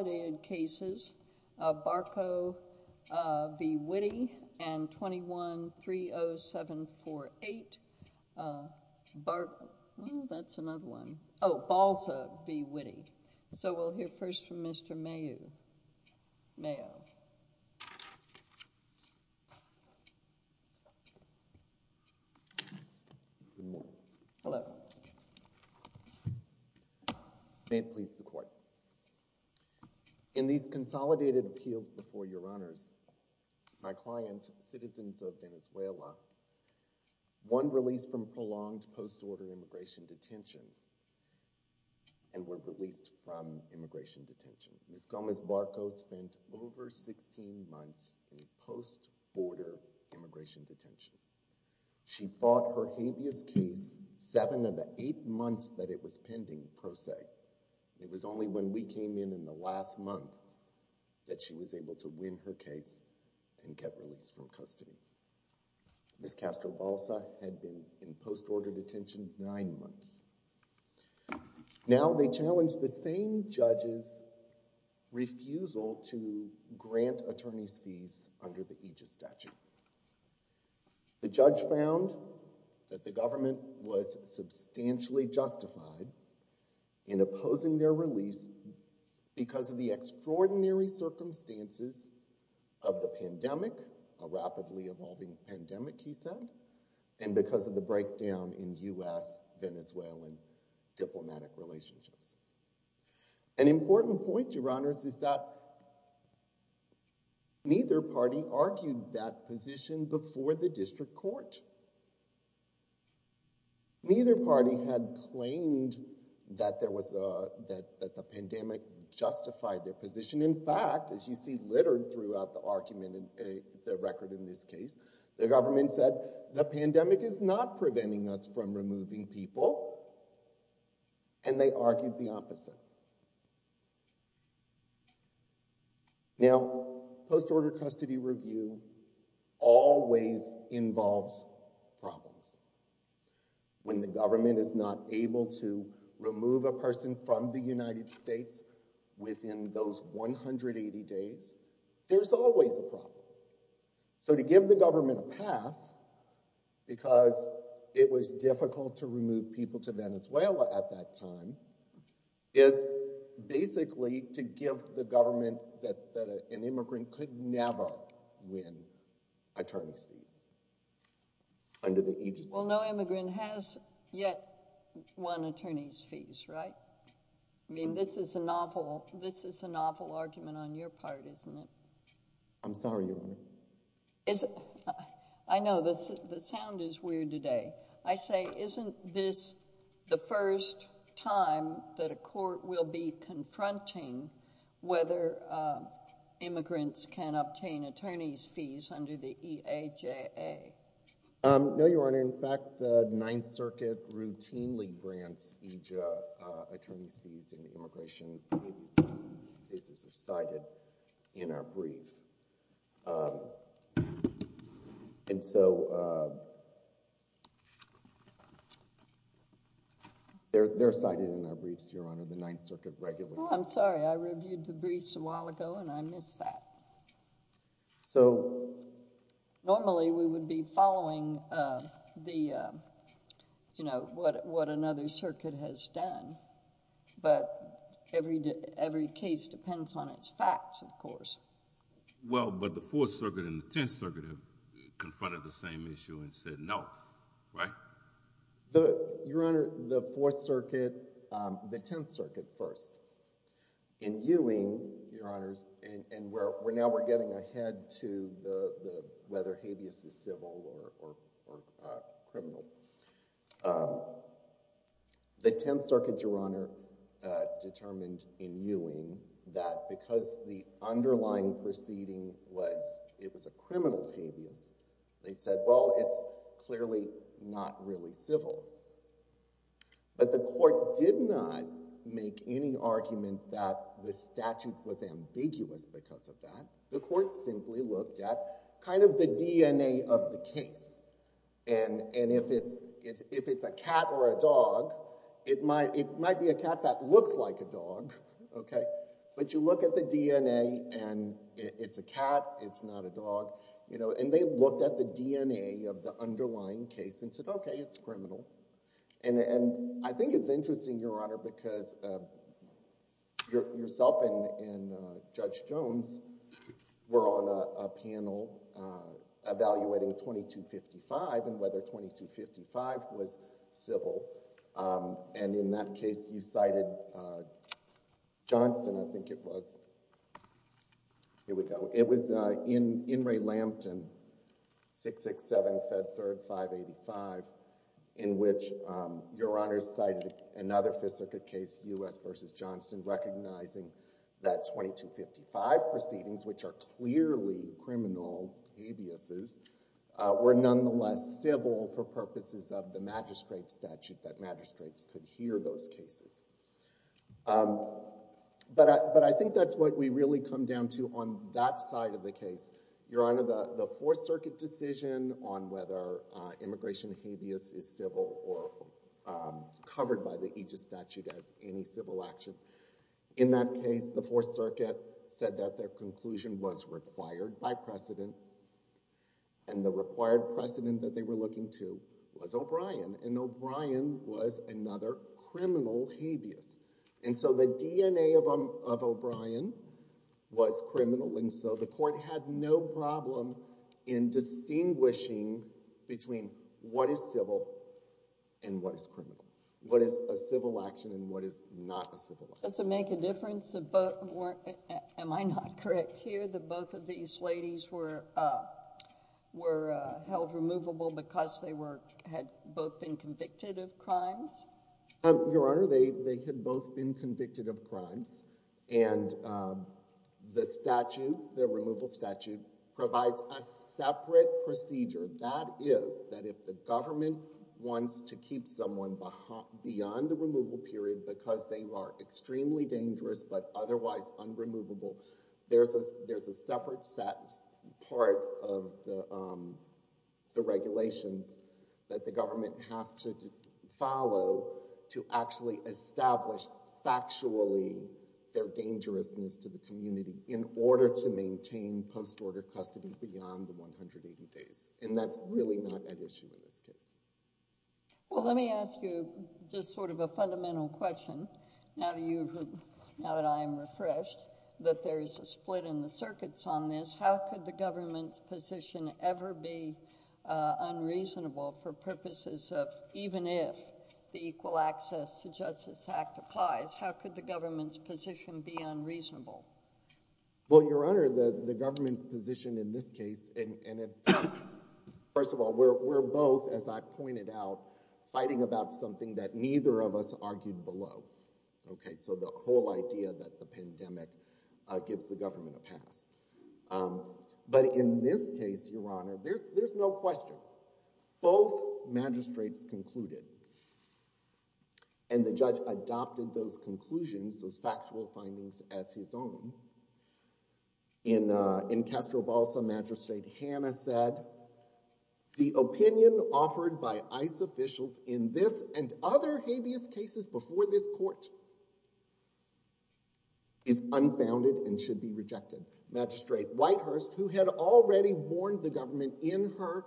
and 21-30748 Barco. That's another one. Oh, Balsa v. Witte. So we'll hear first from In these consolidated appeals before your honors, my clients, citizens of Venezuela, one released from prolonged post-order immigration detention and were released from immigration detention. Ms. Gomez Barco spent over 16 months in post-order immigration detention. She fought her habeas case seven of the eight months that it was pending pro se. It was only when we came in the last month that she was able to win her case and get released from custody. Ms. Castro-Balsa had been in post-order detention nine months. Now they challenged the same judge's refusal to grant attorney's fees under the aegis statute. The judge found that the because of the extraordinary circumstances of the pandemic, a rapidly evolving pandemic, he said, and because of the breakdown in U.S. Venezuelan diplomatic relationships. An important point, your honors, is that neither party argued that position before the district court. Neither party had claimed that there was a, that the pandemic justified their position. In fact, as you see littered throughout the argument in the record in this case, the government said, the pandemic is not preventing us from removing people, and they argued the opposite. Now, post-order custody review always involves problems. When the government is not able to remove a person from the United States within those 180 days, there's always a problem. So to give the government a pass, because it was difficult to remove people to Venezuela at that time, is basically to give the government that an immigrant could never win attorney's fees under the aegis statute. Well, no immigrant has yet won attorney's fees, right? I mean, this is an awful, this is an awful argument on your part, isn't it? I'm sorry, your honor. Is it, I know this, the sound is weird today. I say, isn't this the first time that a court will be confronting whether immigrants can obtain attorney's fees under the EAJA? No, your honor. In fact, the Ninth Circuit routinely grants EJA attorney's fees and immigration cases are cited in our brief. And so, they're cited in our briefs, your honor, the Ninth Circuit regularly. Oh, I'm sorry. I reviewed the briefs a while ago and I missed that. So... Normally, we would be following the, you know, what another circuit has done, but every case depends on its facts, of course. Well, but the Fourth Circuit and the Tenth Circuit have confronted the same issue and said no, right? The, your honor, the Fourth Circuit, the Tenth Circuit first. In Ewing, your honors, and where now we're getting ahead to the, whether habeas is civil or criminal, the Tenth Circuit, your honor, determined in Ewing that because the underlying proceeding was, it was a criminal habeas, they said, well, it's clearly not really civil. But the court did not make any argument that the statute was ambiguous because of that. The court simply looked at kind of the DNA of the case. And, and if it's, if it's a cat or a dog, it might, it might be a cat that looks like a dog, okay? But you look at the DNA and it's a cat, it's not a dog, you know, and they looked at the DNA of the underlying case and said, okay, it's criminal. And, and I think it's interesting, your honor, because your, yourself and, and Judge Jones were on a panel evaluating 2255 and whether 2255 was civil. And in that case, you cited Johnston, I think it was. Here we go. It was in, in Ray-Lambton, 667, Fed Third, 585, in which your honor cited another Fifth Circuit case, U.S. versus Johnston, recognizing that 2255 proceedings, which are clearly criminal habeases, were nonetheless civil for purposes of the magistrate statute, that magistrates could hear those cases. But I, but I think that's what we really come down to on that side of the case, your honor, the, the Fourth Circuit decision on whether immigration habeas is civil or covered by the aegis statute as any civil action. In that case, the Fourth Circuit said that their conclusion was required by precedent, and the required precedent that they were looking to was O'Brien, and O'Brien was another criminal habeas. And so the DNA of O'Brien was criminal, and so the in distinguishing between what is civil and what is criminal, what is a civil action and what is not a civil action. Does it make a difference about, am I not correct here, that both of these ladies were, were held removable because they were, had both been convicted of crimes? Your honor, they, they had both been convicted of crimes, and the statute, the removal statute, provides a separate procedure. That is, that if the government wants to keep someone beyond the removal period because they are extremely dangerous but otherwise unremovable, there's a, there's a separate part of the, the regulations that the government has to follow to actually establish factually their dangerousness to the community in order to keep them out of their custody beyond the 180 days. And that's really not an issue in this case. Well, let me ask you just sort of a fundamental question. Now that you've, now that I am refreshed that there is a split in the circuits on this, how could the government's position ever be unreasonable for purposes of, even if the Equal Access to Justice Act applies, how could the government's position be unreasonable? Well, your honor, the, the government's position in this case, and it's, first of all, we're, we're both, as I pointed out, fighting about something that neither of us argued below. Okay. So the whole idea that the pandemic gives the government a pass. But in this case, your honor, there, there's no question. Both magistrates concluded, and the judge adopted those conclusions, those factual findings as his own. In, in Castro-Balsa, Magistrate Hannah said, the opinion offered by ICE officials in this and other habeas cases before this court is unbounded and should be rejected. Magistrate Whitehurst, who had already warned the government in her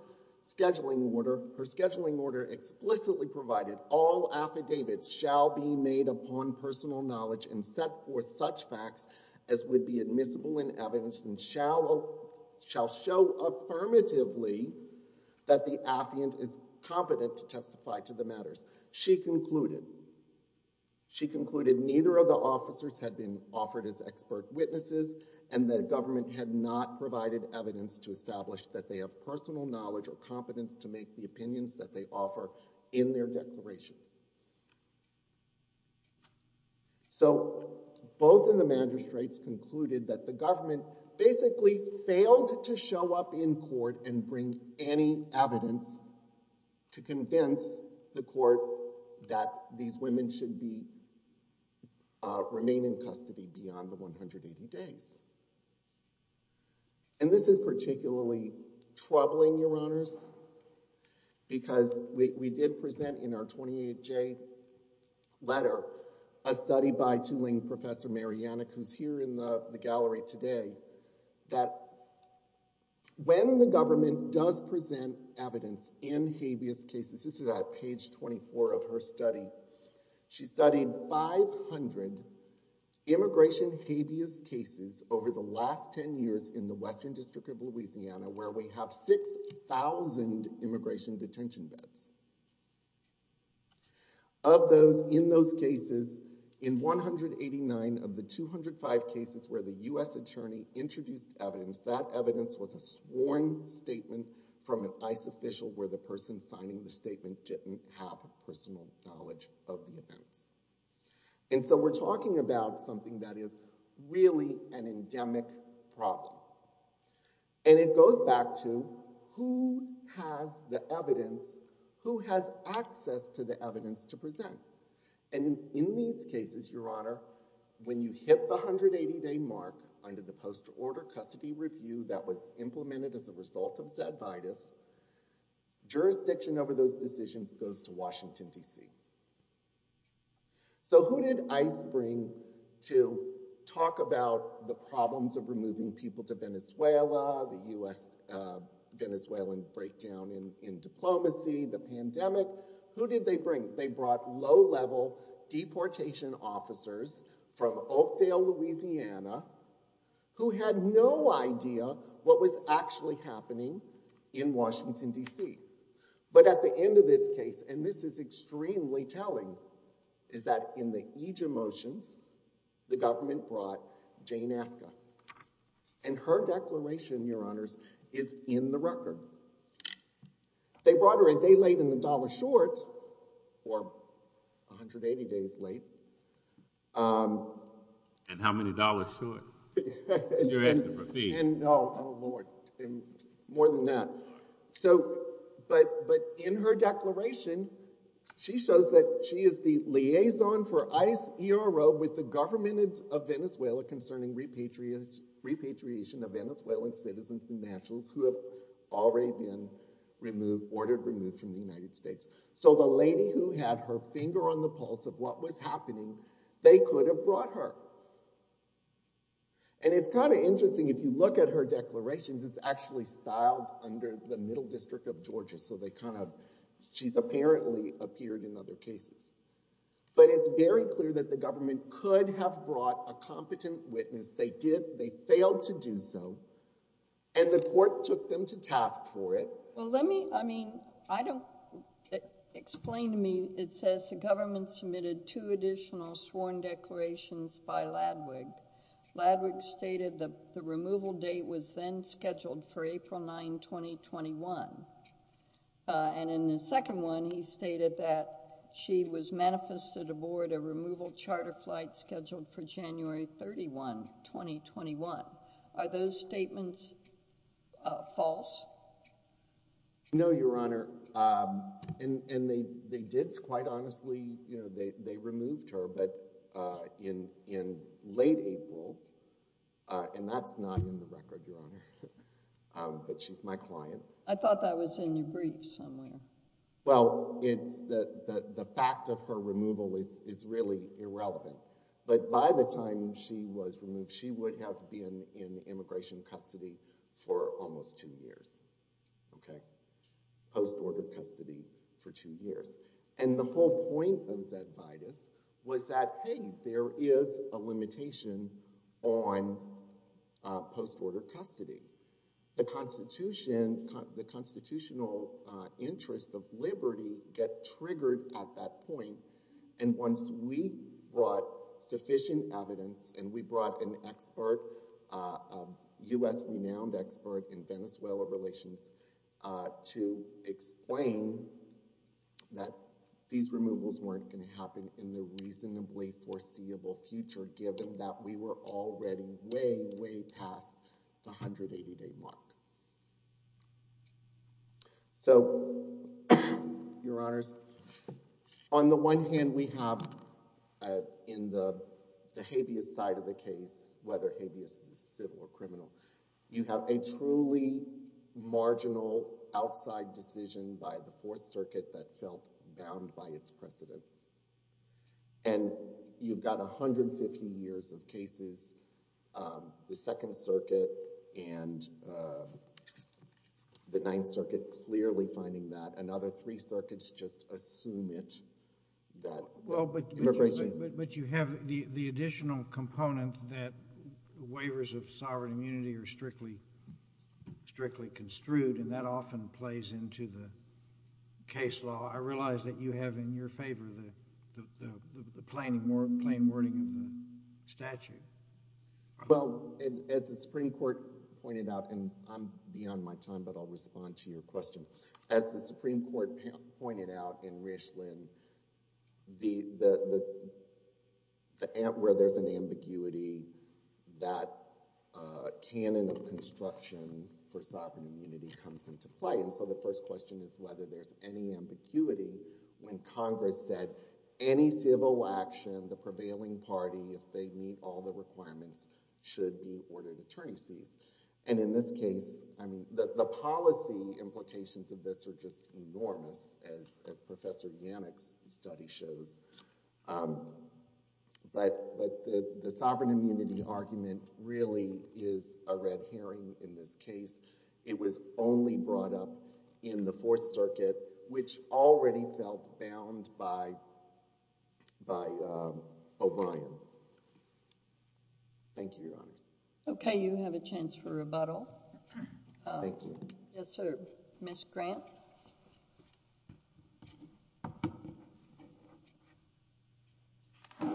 scheduling order, her scheduling order explicitly provided all affidavits shall be made upon personal knowledge and set forth such facts as would be admissible in evidence and shall, shall show affirmatively that the affiant is competent to testify to the matters. She concluded, she concluded neither of the officers had been offered as expert witnesses and the government had not provided evidence to establish that they have personal knowledge or competence to make the opinions that they offer in their declarations. So both of the magistrates concluded that the government basically failed to show up in court and bring any evidence to convince the court that these women should be, remain in custody beyond the 180 days. And this is particularly troubling, your honors, because we did present in our 28-J letter a study by Tuling Professor Marianek, who's here in the gallery today, that when the government does present evidence in habeas cases, this is at page 24 of her study, she studied 500 immigration habeas cases over the last 10 years in the Western District of Louisiana, where we have 6,000 immigration detention beds. Of those, in those cases, in 189 of the 205 cases where the U.S. attorney introduced evidence, that evidence was a sworn statement from an ICE official where the person signing the statement didn't have personal knowledge of the events. And so we're talking about something that is really an endemic problem. And it goes back to who has the evidence, who has access to the evidence to present. And in these cases, your honor, when you hit the 180-day mark under the post-order custody review that was implemented as a result of Zadvidus, jurisdiction over those decisions goes to Washington, D.C. So who did ICE bring to talk about the problems of removing people to Venezuela, the U.S. Venezuelan breakdown in diplomacy, the pandemic? Who did they bring? They brought low-level deportation officers from Oakdale, Louisiana, who had no idea what was actually happening in Washington, D.C. But at the end of this case, and this is extremely telling, is that in the IJA motions, the government brought Jane Aska. And her declaration, your honors, is in the record. They brought her a day late and a dollar short, or 180 days late. And how many dollars short? You're asking for fees. No, more than that. So, but in her declaration, she shows that she is the liaison for ICE ERO with the government of Venezuela concerning repatriation of Venezuelan citizens and nationals who have already been removed, ordered removed from the United States. So the lady who had her finger on the pulse of what was happening, they could have brought her. And it's kind of interesting, if you look at her declarations, it's actually styled under the Middle District of Georgia. So they kind of, she's apparently appeared in other cases. But it's very clear that the government could have brought a competent witness. They did. They failed to do so. And the court took them to task for it. Well, let me, I mean, I don't, explain to me, it says the government submitted two additional sworn declarations by Ladwig. Ladwig stated that the removal date was then scheduled for April 9, 2021. And in the second one, he stated that she was manifested aboard a removal charter flight No, Your Honor. And they did quite honestly, you know, they removed her. But in late April, and that's not in the record, Your Honor. But she's my client. I thought that was in your brief somewhere. Well, it's the fact of her removal is really irrelevant. But by the time she was removed, she would have been in immigration custody for almost two years. Okay. Post-order custody for two years. And the whole point of Zedvidus was that, hey, there is a limitation on post-order custody. The constitutional interest of liberty get triggered at that point. And once we brought sufficient evidence and we brought an expert, U.S. renowned expert in Venezuela relations to explain that these removals weren't going to happen in the reasonably foreseeable future, given that we were already way, way past the 180-day mark. So, Your Honors, on the one hand, we have in the habeas side of the case, whether habeas is civil or criminal, you have a truly marginal outside decision by the Fourth Circuit that felt bound by its precedent. And you've got 150 years of cases, the Second Circuit and the Ninth Circuit clearly finding that. And other three circuits just assume it, that immigration— Well, but you have the additional component that waivers of sovereign immunity are strictly construed, and that often plays into the case law. I realize that you have in your favor the plain wording of the statute. Well, as the Supreme Court pointed out, and I'm beyond my time, but I'll respond to your question. As the Supreme Court pointed out in Richland, where there's an ambiguity, that canon of construction for sovereign immunity comes into play. And so the first question is whether there's any ambiguity when Congress said any civil action, the prevailing party, if they meet all the requirements, should be ordered attorney's fees. And in this case, the policy implications of this are just enormous, as Professor Yannick's study shows. But the sovereign immunity argument really is a red herring in this case. It was only brought up in the Fourth Circuit. Thank you, Your Honor. Okay, you have a chance for rebuttal. Thank you. Yes, sir. Ms. Grant. Good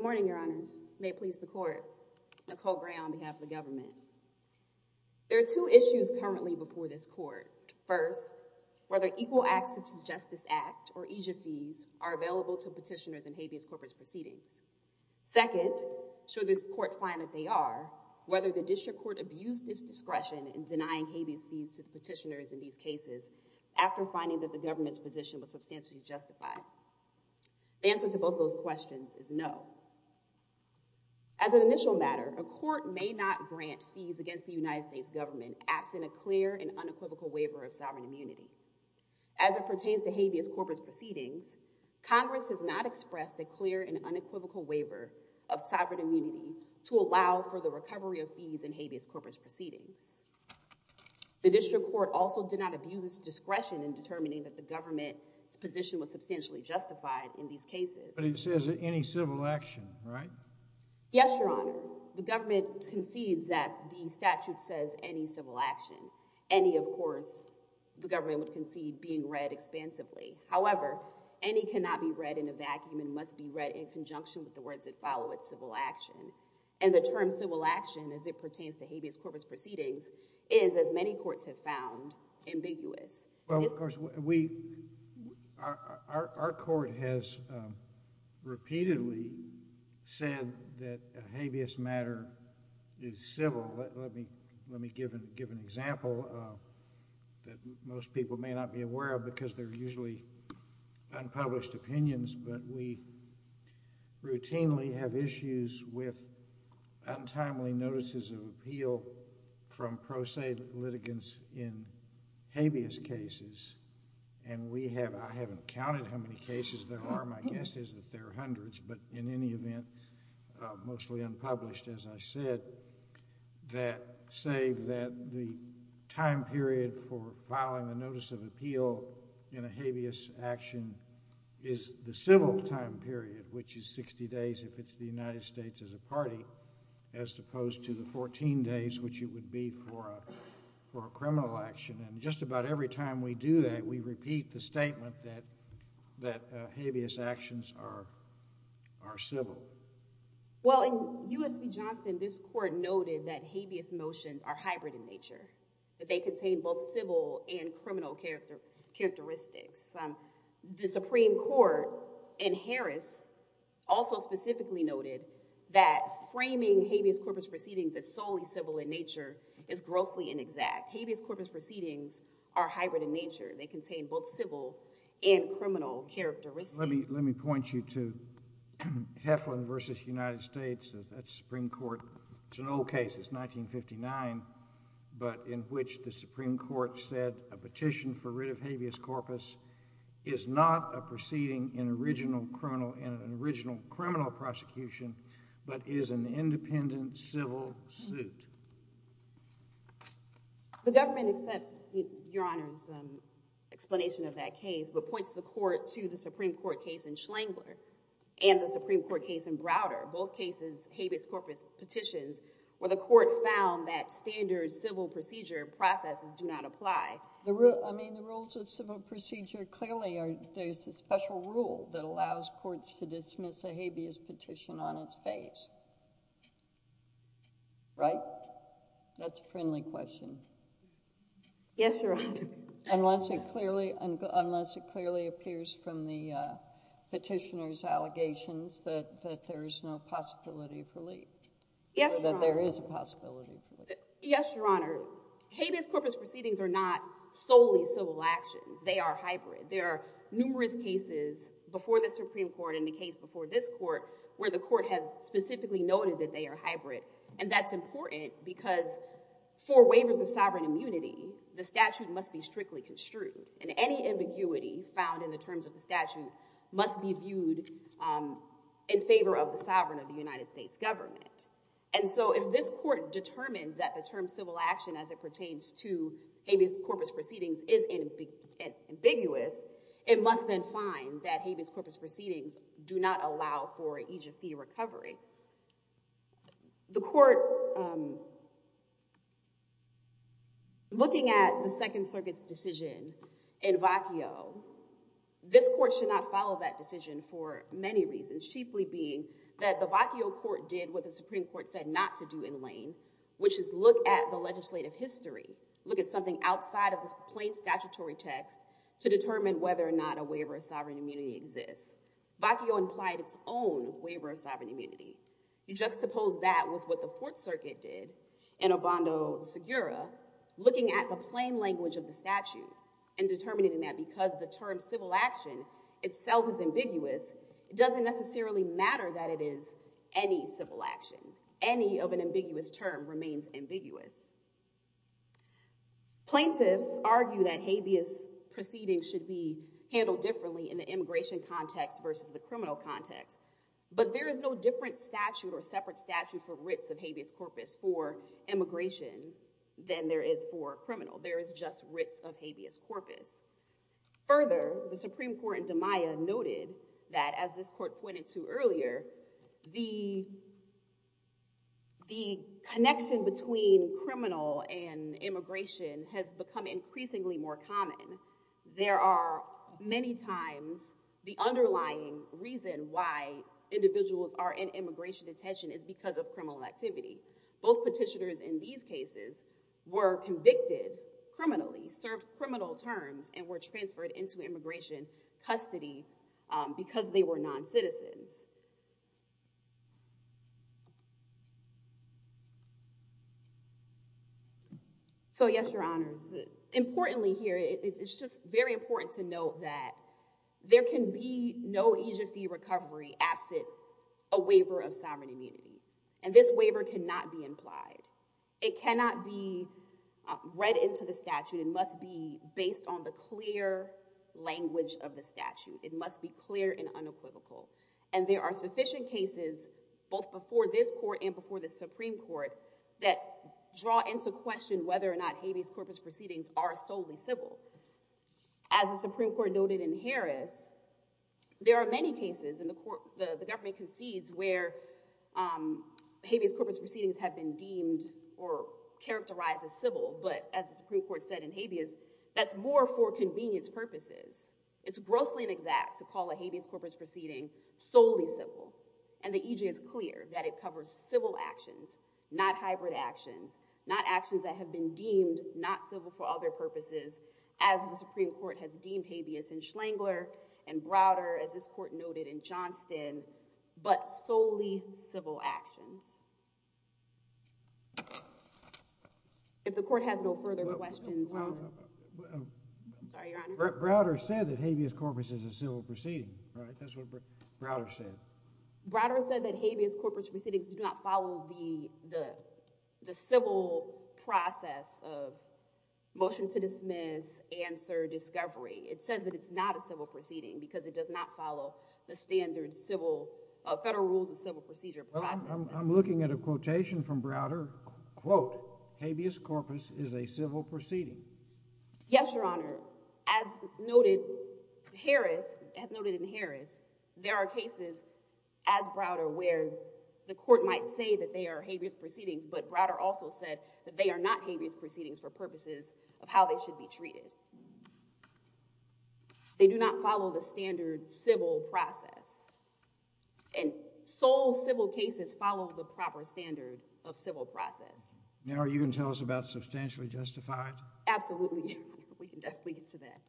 morning, Your Honors. May it please the Court. Nicole Gray on behalf of the government. There are two issues currently before this Court. First, whether equal access to the Justice Act or EJIA fees are available to petitioners in habeas corpus proceedings. Second, should this Court find that they are, whether the district court abused its discretion in denying habeas fees to the petitioners in these cases after finding that the government's position was substantially justified. The answer to both those questions is no. As an initial matter, a court may not grant fees against the United States government absent a clear and unequivocal waiver of sovereign immunity. As it pertains to habeas corpus proceedings, Congress has not expressed a clear and unequivocal waiver of sovereign immunity to allow for the recovery of fees in habeas corpus proceedings. The district court also did not abuse its discretion in determining that the government's position was substantially justified in these cases. But it says any civil action, right? Yes, Your Honor. The government concedes that the statute says any civil action. Any, of course, the government would concede being read expansively. However, any cannot be read in a vacuum and must be read in conjunction with the words that follow it, civil action. And the term civil action, as it pertains to habeas corpus proceedings, is, as many courts have found, ambiguous. Well, of course, our court has repeatedly said that a habeas matter is civil. Let me give an example that most people may not be aware of because they're usually unpublished opinions. But we routinely have issues with untimely notices of appeal from pro se litigants in habeas cases. And we have, I haven't counted how many cases there are. My guess is that there are hundreds. But in any event, mostly unpublished, as I said, that say that the time period for filing a notice of appeal in a habeas action is the civil time period, which is 60 days if it's the United States as a party, as opposed to the 14 days, which it would be for a criminal action. And just about every time we do that, we repeat the statement that habeas actions are civil. Well, in U.S. v. Johnston, this court noted that habeas motions are hybrid in nature, that they contain both civil and criminal characteristics. The Supreme Court in Harris also specifically noted that framing habeas corpus proceedings as solely civil in nature is grossly inexact. Habeas corpus proceedings are hybrid in nature. They contain both civil and criminal characteristics. Let me point you to Heflin v. United States. That's the Supreme Court. It's an old case. It's 1959, but in which the Supreme Court said a petition for writ of habeas corpus is not a proceeding in an original criminal prosecution, but is an independent civil suit. The government accepts Your Honor's explanation of that case, but points the court to the Supreme Court case in Schengler and the Supreme Court case in Browder, both cases habeas corpus petitions, where the court found that standard civil procedure processes do not apply. The rule, I mean, the rules of civil procedure clearly are, there's a special rule that allows courts to dismiss a habeas petition on its face, right? That's a friendly question. Yes, Your Honor. Unless it clearly, unless it clearly appears from the petitioner's allegations that there is no possibility of relief, that there is a possibility. Yes, Your Honor. Habeas corpus proceedings are not solely civil actions. They are hybrid. There are numerous cases before the Supreme Court and the case before this court where the court has specifically noted that they are hybrid, and that's important because for waivers of sovereign immunity, the statute must be strictly construed, and any ambiguity found in the terms of the statute must be viewed in favor of the sovereign of the United States government. And so if this court determined that the term civil action as it pertains to habeas corpus proceedings is ambiguous, it must then find that habeas corpus proceedings do not allow for aegypti recovery. The court, looking at the Second Circuit's decision in vacuo, this court should not follow that decision for many reasons, chiefly being that the vacuo court did what the Supreme Court said not to do in lane, which is look at the legislative history, look at something outside of the plain statutory text to determine whether or not a waiver of sovereign immunity exists. Vacuo implied its own waiver of sovereign immunity. You juxtapose that with what the Fourth Circuit did in Obando-Segura, looking at the plain language of the statute and determining that because the term civil action itself is it doesn't necessarily matter that it is any civil action. Any of an ambiguous term remains ambiguous. Plaintiffs argue that habeas proceedings should be handled differently in the immigration context versus the criminal context, but there is no different statute or separate statute for writs of habeas corpus for immigration than there is for criminal. There is just writs of habeas corpus. Further, the Supreme Court in Damaya noted that, as this court pointed to earlier, the the connection between criminal and immigration has become increasingly more common. There are many times the underlying reason why individuals are in immigration detention is because of criminal activity. Both petitioners in these cases were convicted criminally, served criminal terms, and were transferred into immigration custody because they were non-citizens. So, yes, your honors. Importantly here, it's just very important to note that there can be no agency recovery absent a waiver of sovereign immunity, and this waiver cannot be based on the clear language of the statute. It must be clear and unequivocal, and there are sufficient cases both before this court and before the Supreme Court that draw into question whether or not habeas corpus proceedings are solely civil. As the Supreme Court noted in Harris, there are many cases in the court the government concedes where habeas corpus proceedings have been that's more for convenience purposes. It's grossly inexact to call a habeas corpus proceeding solely civil, and the EJ is clear that it covers civil actions, not hybrid actions, not actions that have been deemed not civil for other purposes, as the Supreme Court has deemed habeas in Schlangler and Browder, as this court noted in Johnston, but solely civil actions. If the court has no further questions. Browder said that habeas corpus is a civil proceeding, right? That's what Browder said. Browder said that habeas corpus proceedings do not follow the civil process of motion to dismiss, answer, discovery. It says that it's not a civil proceeding because it does not follow the standard federal rules of civil procedure. I'm looking at a quotation from Browder, quote, habeas corpus is a civil proceeding. Yes, Your Honor. As noted in Harris, there are cases as Browder where the court might say that they are habeas proceedings, but Browder also said that they are not habeas proceedings for purposes of how they should be treated. They do not follow the standard civil process, and sole civil cases follow the proper standard of civil process. Now, are you going to tell us about substantially justified? Absolutely, we can definitely get to that.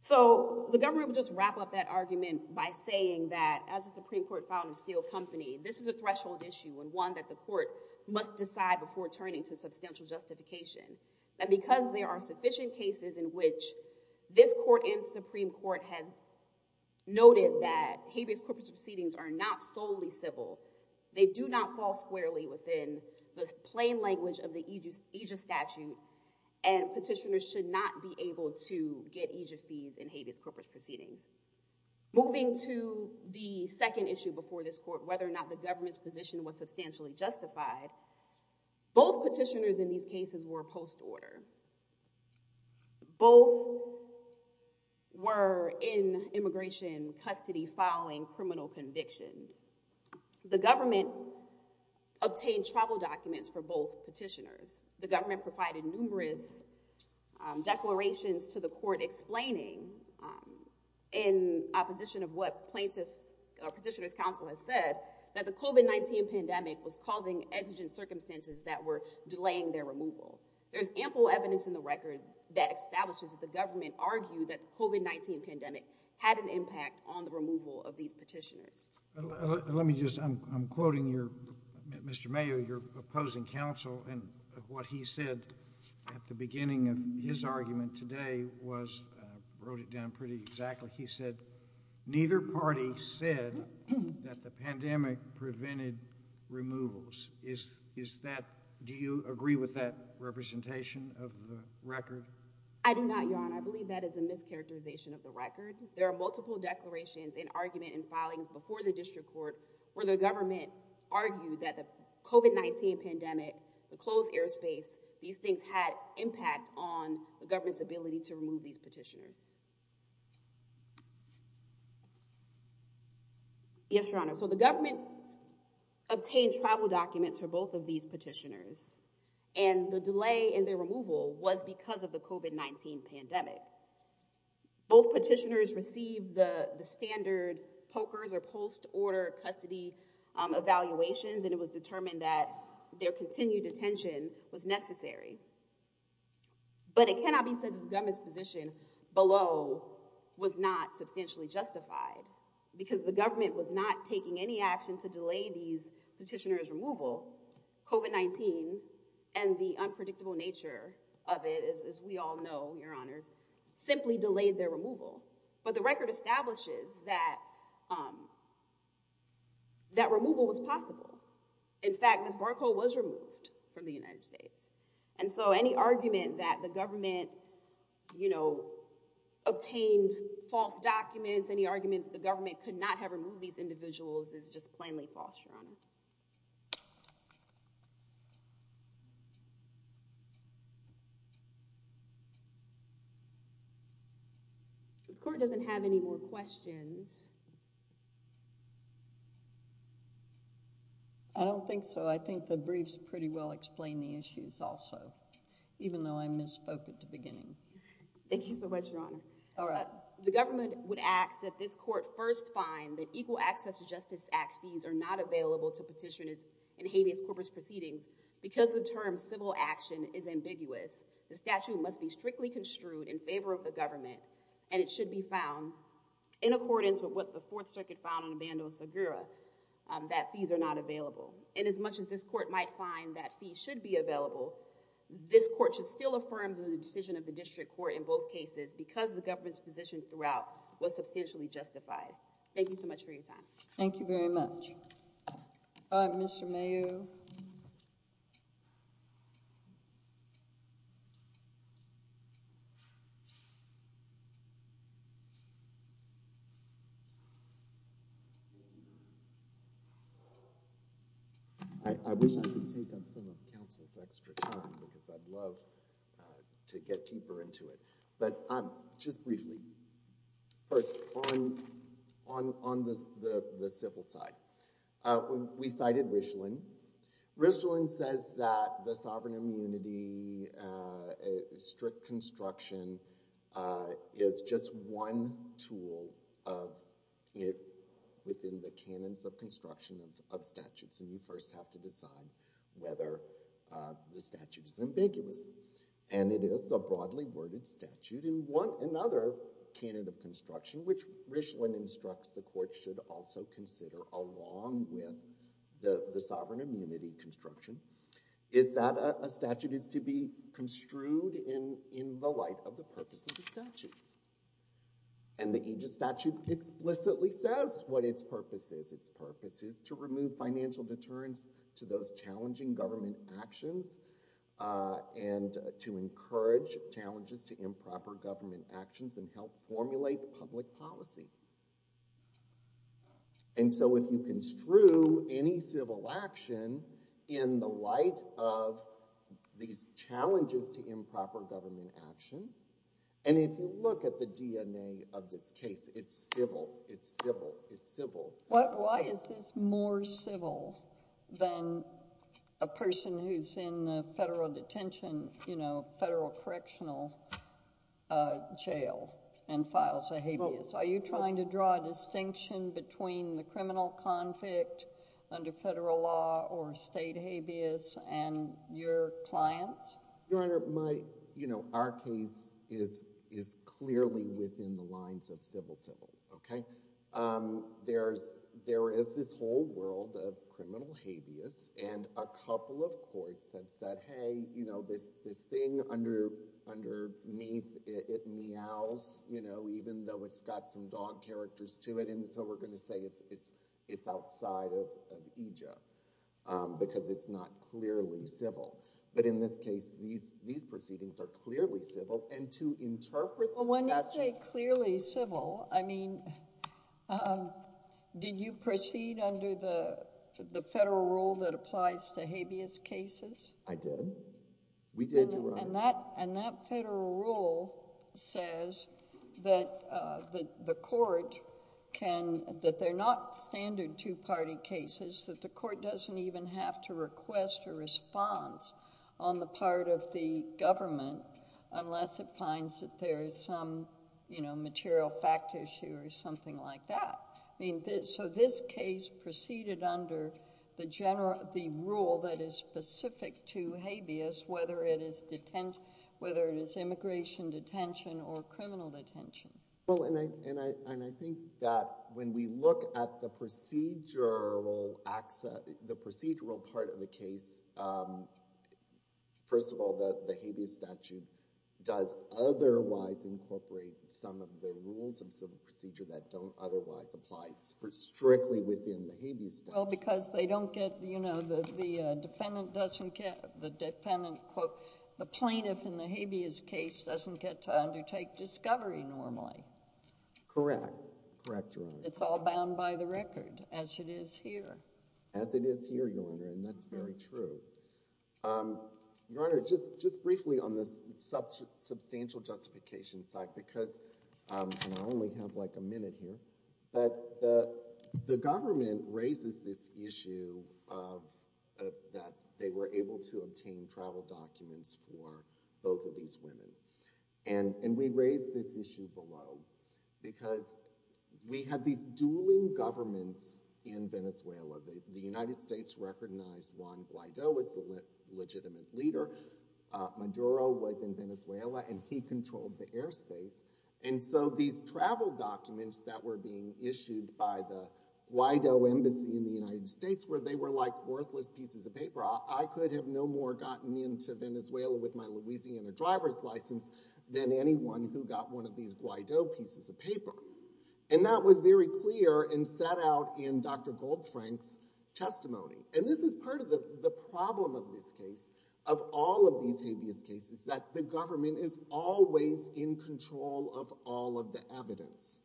So, the government would just wrap up that argument by saying that, as the Supreme Court found in Steele Company, this is a threshold issue and one that the court must decide before turning to substantial justification. And because there are no sufficient cases in which this court in Supreme Court has noted that habeas corpus proceedings are not solely civil, they do not fall squarely within the plain language of the aegis statute, and petitioners should not be able to get aegis fees in habeas corpus proceedings. Moving to the second issue before this court, whether or not the government's position was both were in immigration custody following criminal convictions. The government obtained travel documents for both petitioners. The government provided numerous declarations to the court explaining, in opposition of what plaintiffs or petitioners counsel has said, that the COVID-19 pandemic was causing exigent circumstances that were delaying their removal. There's ample evidence in the record that establishes that the government argued that COVID-19 pandemic had an impact on the removal of these petitioners. Let me just, I'm quoting Mr. Mayo, your opposing counsel, and what he said at the beginning of his argument today was, wrote it down pretty exactly, he said, neither party said that the pandemic prevented removals. Is, is that, do you agree with that representation of the record? I do not, your honor. I believe that is a mischaracterization of the record. There are multiple declarations and argument and filings before the district court where the government argued that the COVID-19 pandemic, the closed airspace, these things had impact on the government's ability to remove these petitioners. Yes, your honor. So the government obtained travel documents for both of these petitioners and the delay in their removal was because of the COVID-19 pandemic. Both petitioners received the standard pokers or post order custody evaluations, and it was determined that their continued detention was necessary. But it cannot be said that the government's position below was not substantially justified because the government was not taking any action to delay these petitioners removal COVID-19 and the unpredictable nature of it is, as we all know, your honors simply delayed their removal. But the record establishes that, um, that removal was possible. In fact, Ms. Barkow was removed from the United States. And so any argument that the government, you know, obtained false documents, any argument the government could not have removed these individuals is just plainly false, your honor. The court doesn't have any more questions. I don't think so. I think the briefs pretty well explain the issues also, even though I misspoke at the beginning. Thank you so much, your honor. All right. The government would ask that this court first find that Equal Access to Justice Act fees are not available to petitioners in habeas corpus proceedings because the term civil action is ambiguous. The statute must be strictly construed in favor of the government, and it should be found in accordance with what the Fourth Circuit found in Bando-Sagura, that fees are not available. And as much as this court might find that fees should be available, this court should still affirm the decision of the district court in both cases because the government's position throughout was substantially justified. Thank you so much for your time. Thank you very much. All right, Mr. Mayhew. I wish I could take up some of counsel's extra time because I'd love to get deeper into it. But just briefly, first on the civil side, we cited Richland. Richland says that the sovereign immunity strict construction is just one tool within the canons of construction of statutes, and you first have to decide whether the statute is ambiguous. And it is a broadly worded statute. In another canon of construction, which Richland instructs the court should also consider along with the sovereign immunity construction, is that a statute is to be construed in the light of the purpose of the statute. And the aegis statute explicitly says what its purpose is. Its purpose is to remove financial deterrence to those challenging government actions and to encourage challenges to improper government actions and help formulate public policy. And so if you construe any civil action in the light of these challenges to improper government action, and if you look at the DNA of this case, it's civil. It's civil. It's civil. Why is this more civil than a person who's in a federal detention, you know, federal correctional jail and files a habeas? Are you trying to draw a distinction between the criminal conflict under federal law or state habeas and your clients? Your Honor, my, you know, our case is clearly within the lines of civil-civil, okay? There is this whole world of criminal habeas, and a couple of courts have said, hey, you know, this thing underneath, it meows, you know, even though it's got some dog characters to it, and so we're going to say it's outside of aegis because it's not clearly civil. But in this case, these proceedings are clearly civil, and to interpret the statute— Well, when you say clearly civil, I mean, did you proceed under the federal rule that I did? We did, Your Honor. And that federal rule says that the court can... that they're not standard two-party cases, that the court doesn't even have to request a response on the part of the government unless it finds that there is some, you know, material fact issue or something like that. I mean, so this case proceeded under the general—the rule that is specific to habeas, whether it is detention—whether it is immigration detention or criminal detention. Well, and I think that when we look at the procedural access—the procedural part of the case, first of all, the habeas statute does otherwise incorporate some of the rules of otherwise applied strictly within the habeas statute. Well, because they don't get—you know, the defendant doesn't get—the defendant, quote, the plaintiff in the habeas case doesn't get to undertake discovery normally. Correct. Correct, Your Honor. It's all bound by the record, as it is here. As it is here, Your Honor, and that's very true. Your Honor, just briefly on the but the government raises this issue of—that they were able to obtain travel documents for both of these women, and we raise this issue below because we have these dueling governments in Venezuela. The United States recognized Juan Guaido as the legitimate leader. Maduro was in issued by the Guaido embassy in the United States, where they were like worthless pieces of paper. I could have no more gotten into Venezuela with my Louisiana driver's license than anyone who got one of these Guaido pieces of paper. And that was very clear and set out in Dr. Goldfrank's testimony. And this is part of the problem of this case, of all of these habeas cases, that the government is always in control of all of the evidence.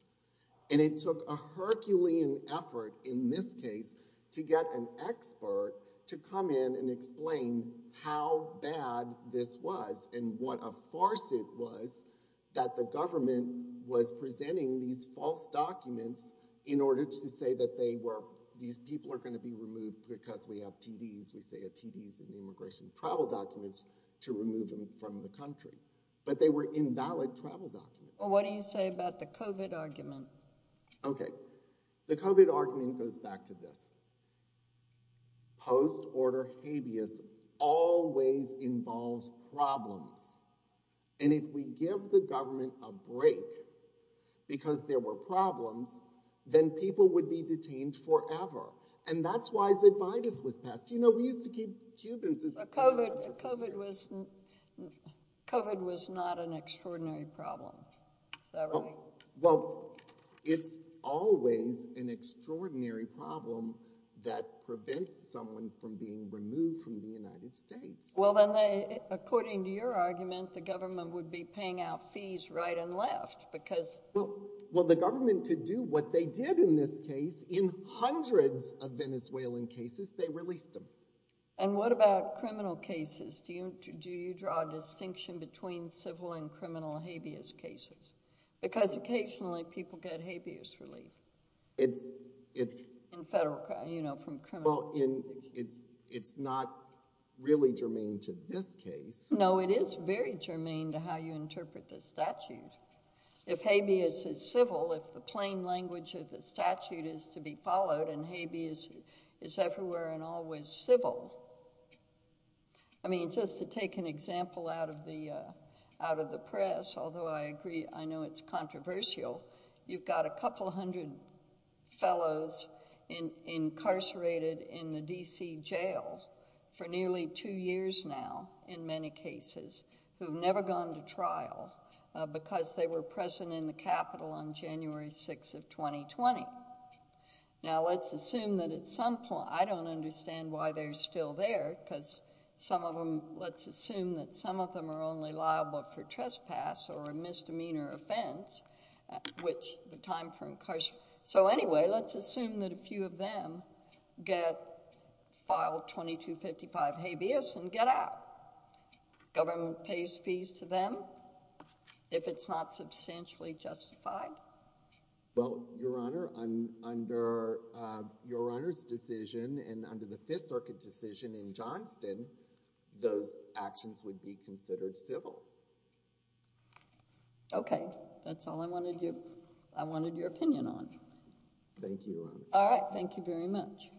And it took a Herculean effort in this case to get an expert to come in and explain how bad this was and what a farce it was that the government was presenting these false documents in order to say that they were—these people are going to be removed because we have TDs. TDs are immigration travel documents to remove them from the country, but they were invalid travel documents. Well, what do you say about the COVID argument? Okay, the COVID argument goes back to this. Post-order habeas always involves problems. And if we give the government a break because there were problems, then people would be detained forever. And that's why Zidvitis was passed. You know, we used to keep Cubans— But COVID was not an extraordinary problem. Is that right? Well, it's always an extraordinary problem that prevents someone from being removed from the United States. Well, then, according to your argument, the government would be paying out fees right and left because— Well, the government could do what they did in this case. In hundreds of Venezuelan cases, they released them. And what about criminal cases? Do you draw a distinction between civil and criminal habeas cases? Because occasionally people get habeas relief. In federal, you know, from criminal— Well, it's not really germane to this case. No, it is very germane to how you interpret the statute. If habeas is civil, if the plain language of the statute is to be followed, and habeas is everywhere and always civil— I mean, just to take an example out of the press, although I agree, I know it's controversial, you've got a couple hundred fellows incarcerated in the D.C. jail for nearly two years now, in many cases, who've never gone to trial because they were present in the Capitol on January 6th of 2020. Now, let's assume that at some point— I don't understand why they're still there because some of them— let's assume that some of them are only liable for trespass or a misdemeanor offense, which the time for incarceration— So anyway, let's assume that a few of them get— file 2255 habeas and get out. Government pays fees to them if it's not substantially justified? Well, Your Honor, under Your Honor's decision and under the Fifth Circuit decision in Johnston, those actions would be considered civil. Okay, that's all I wanted your opinion on. Thank you, Your Honor. All right, thank you very much. Thank you.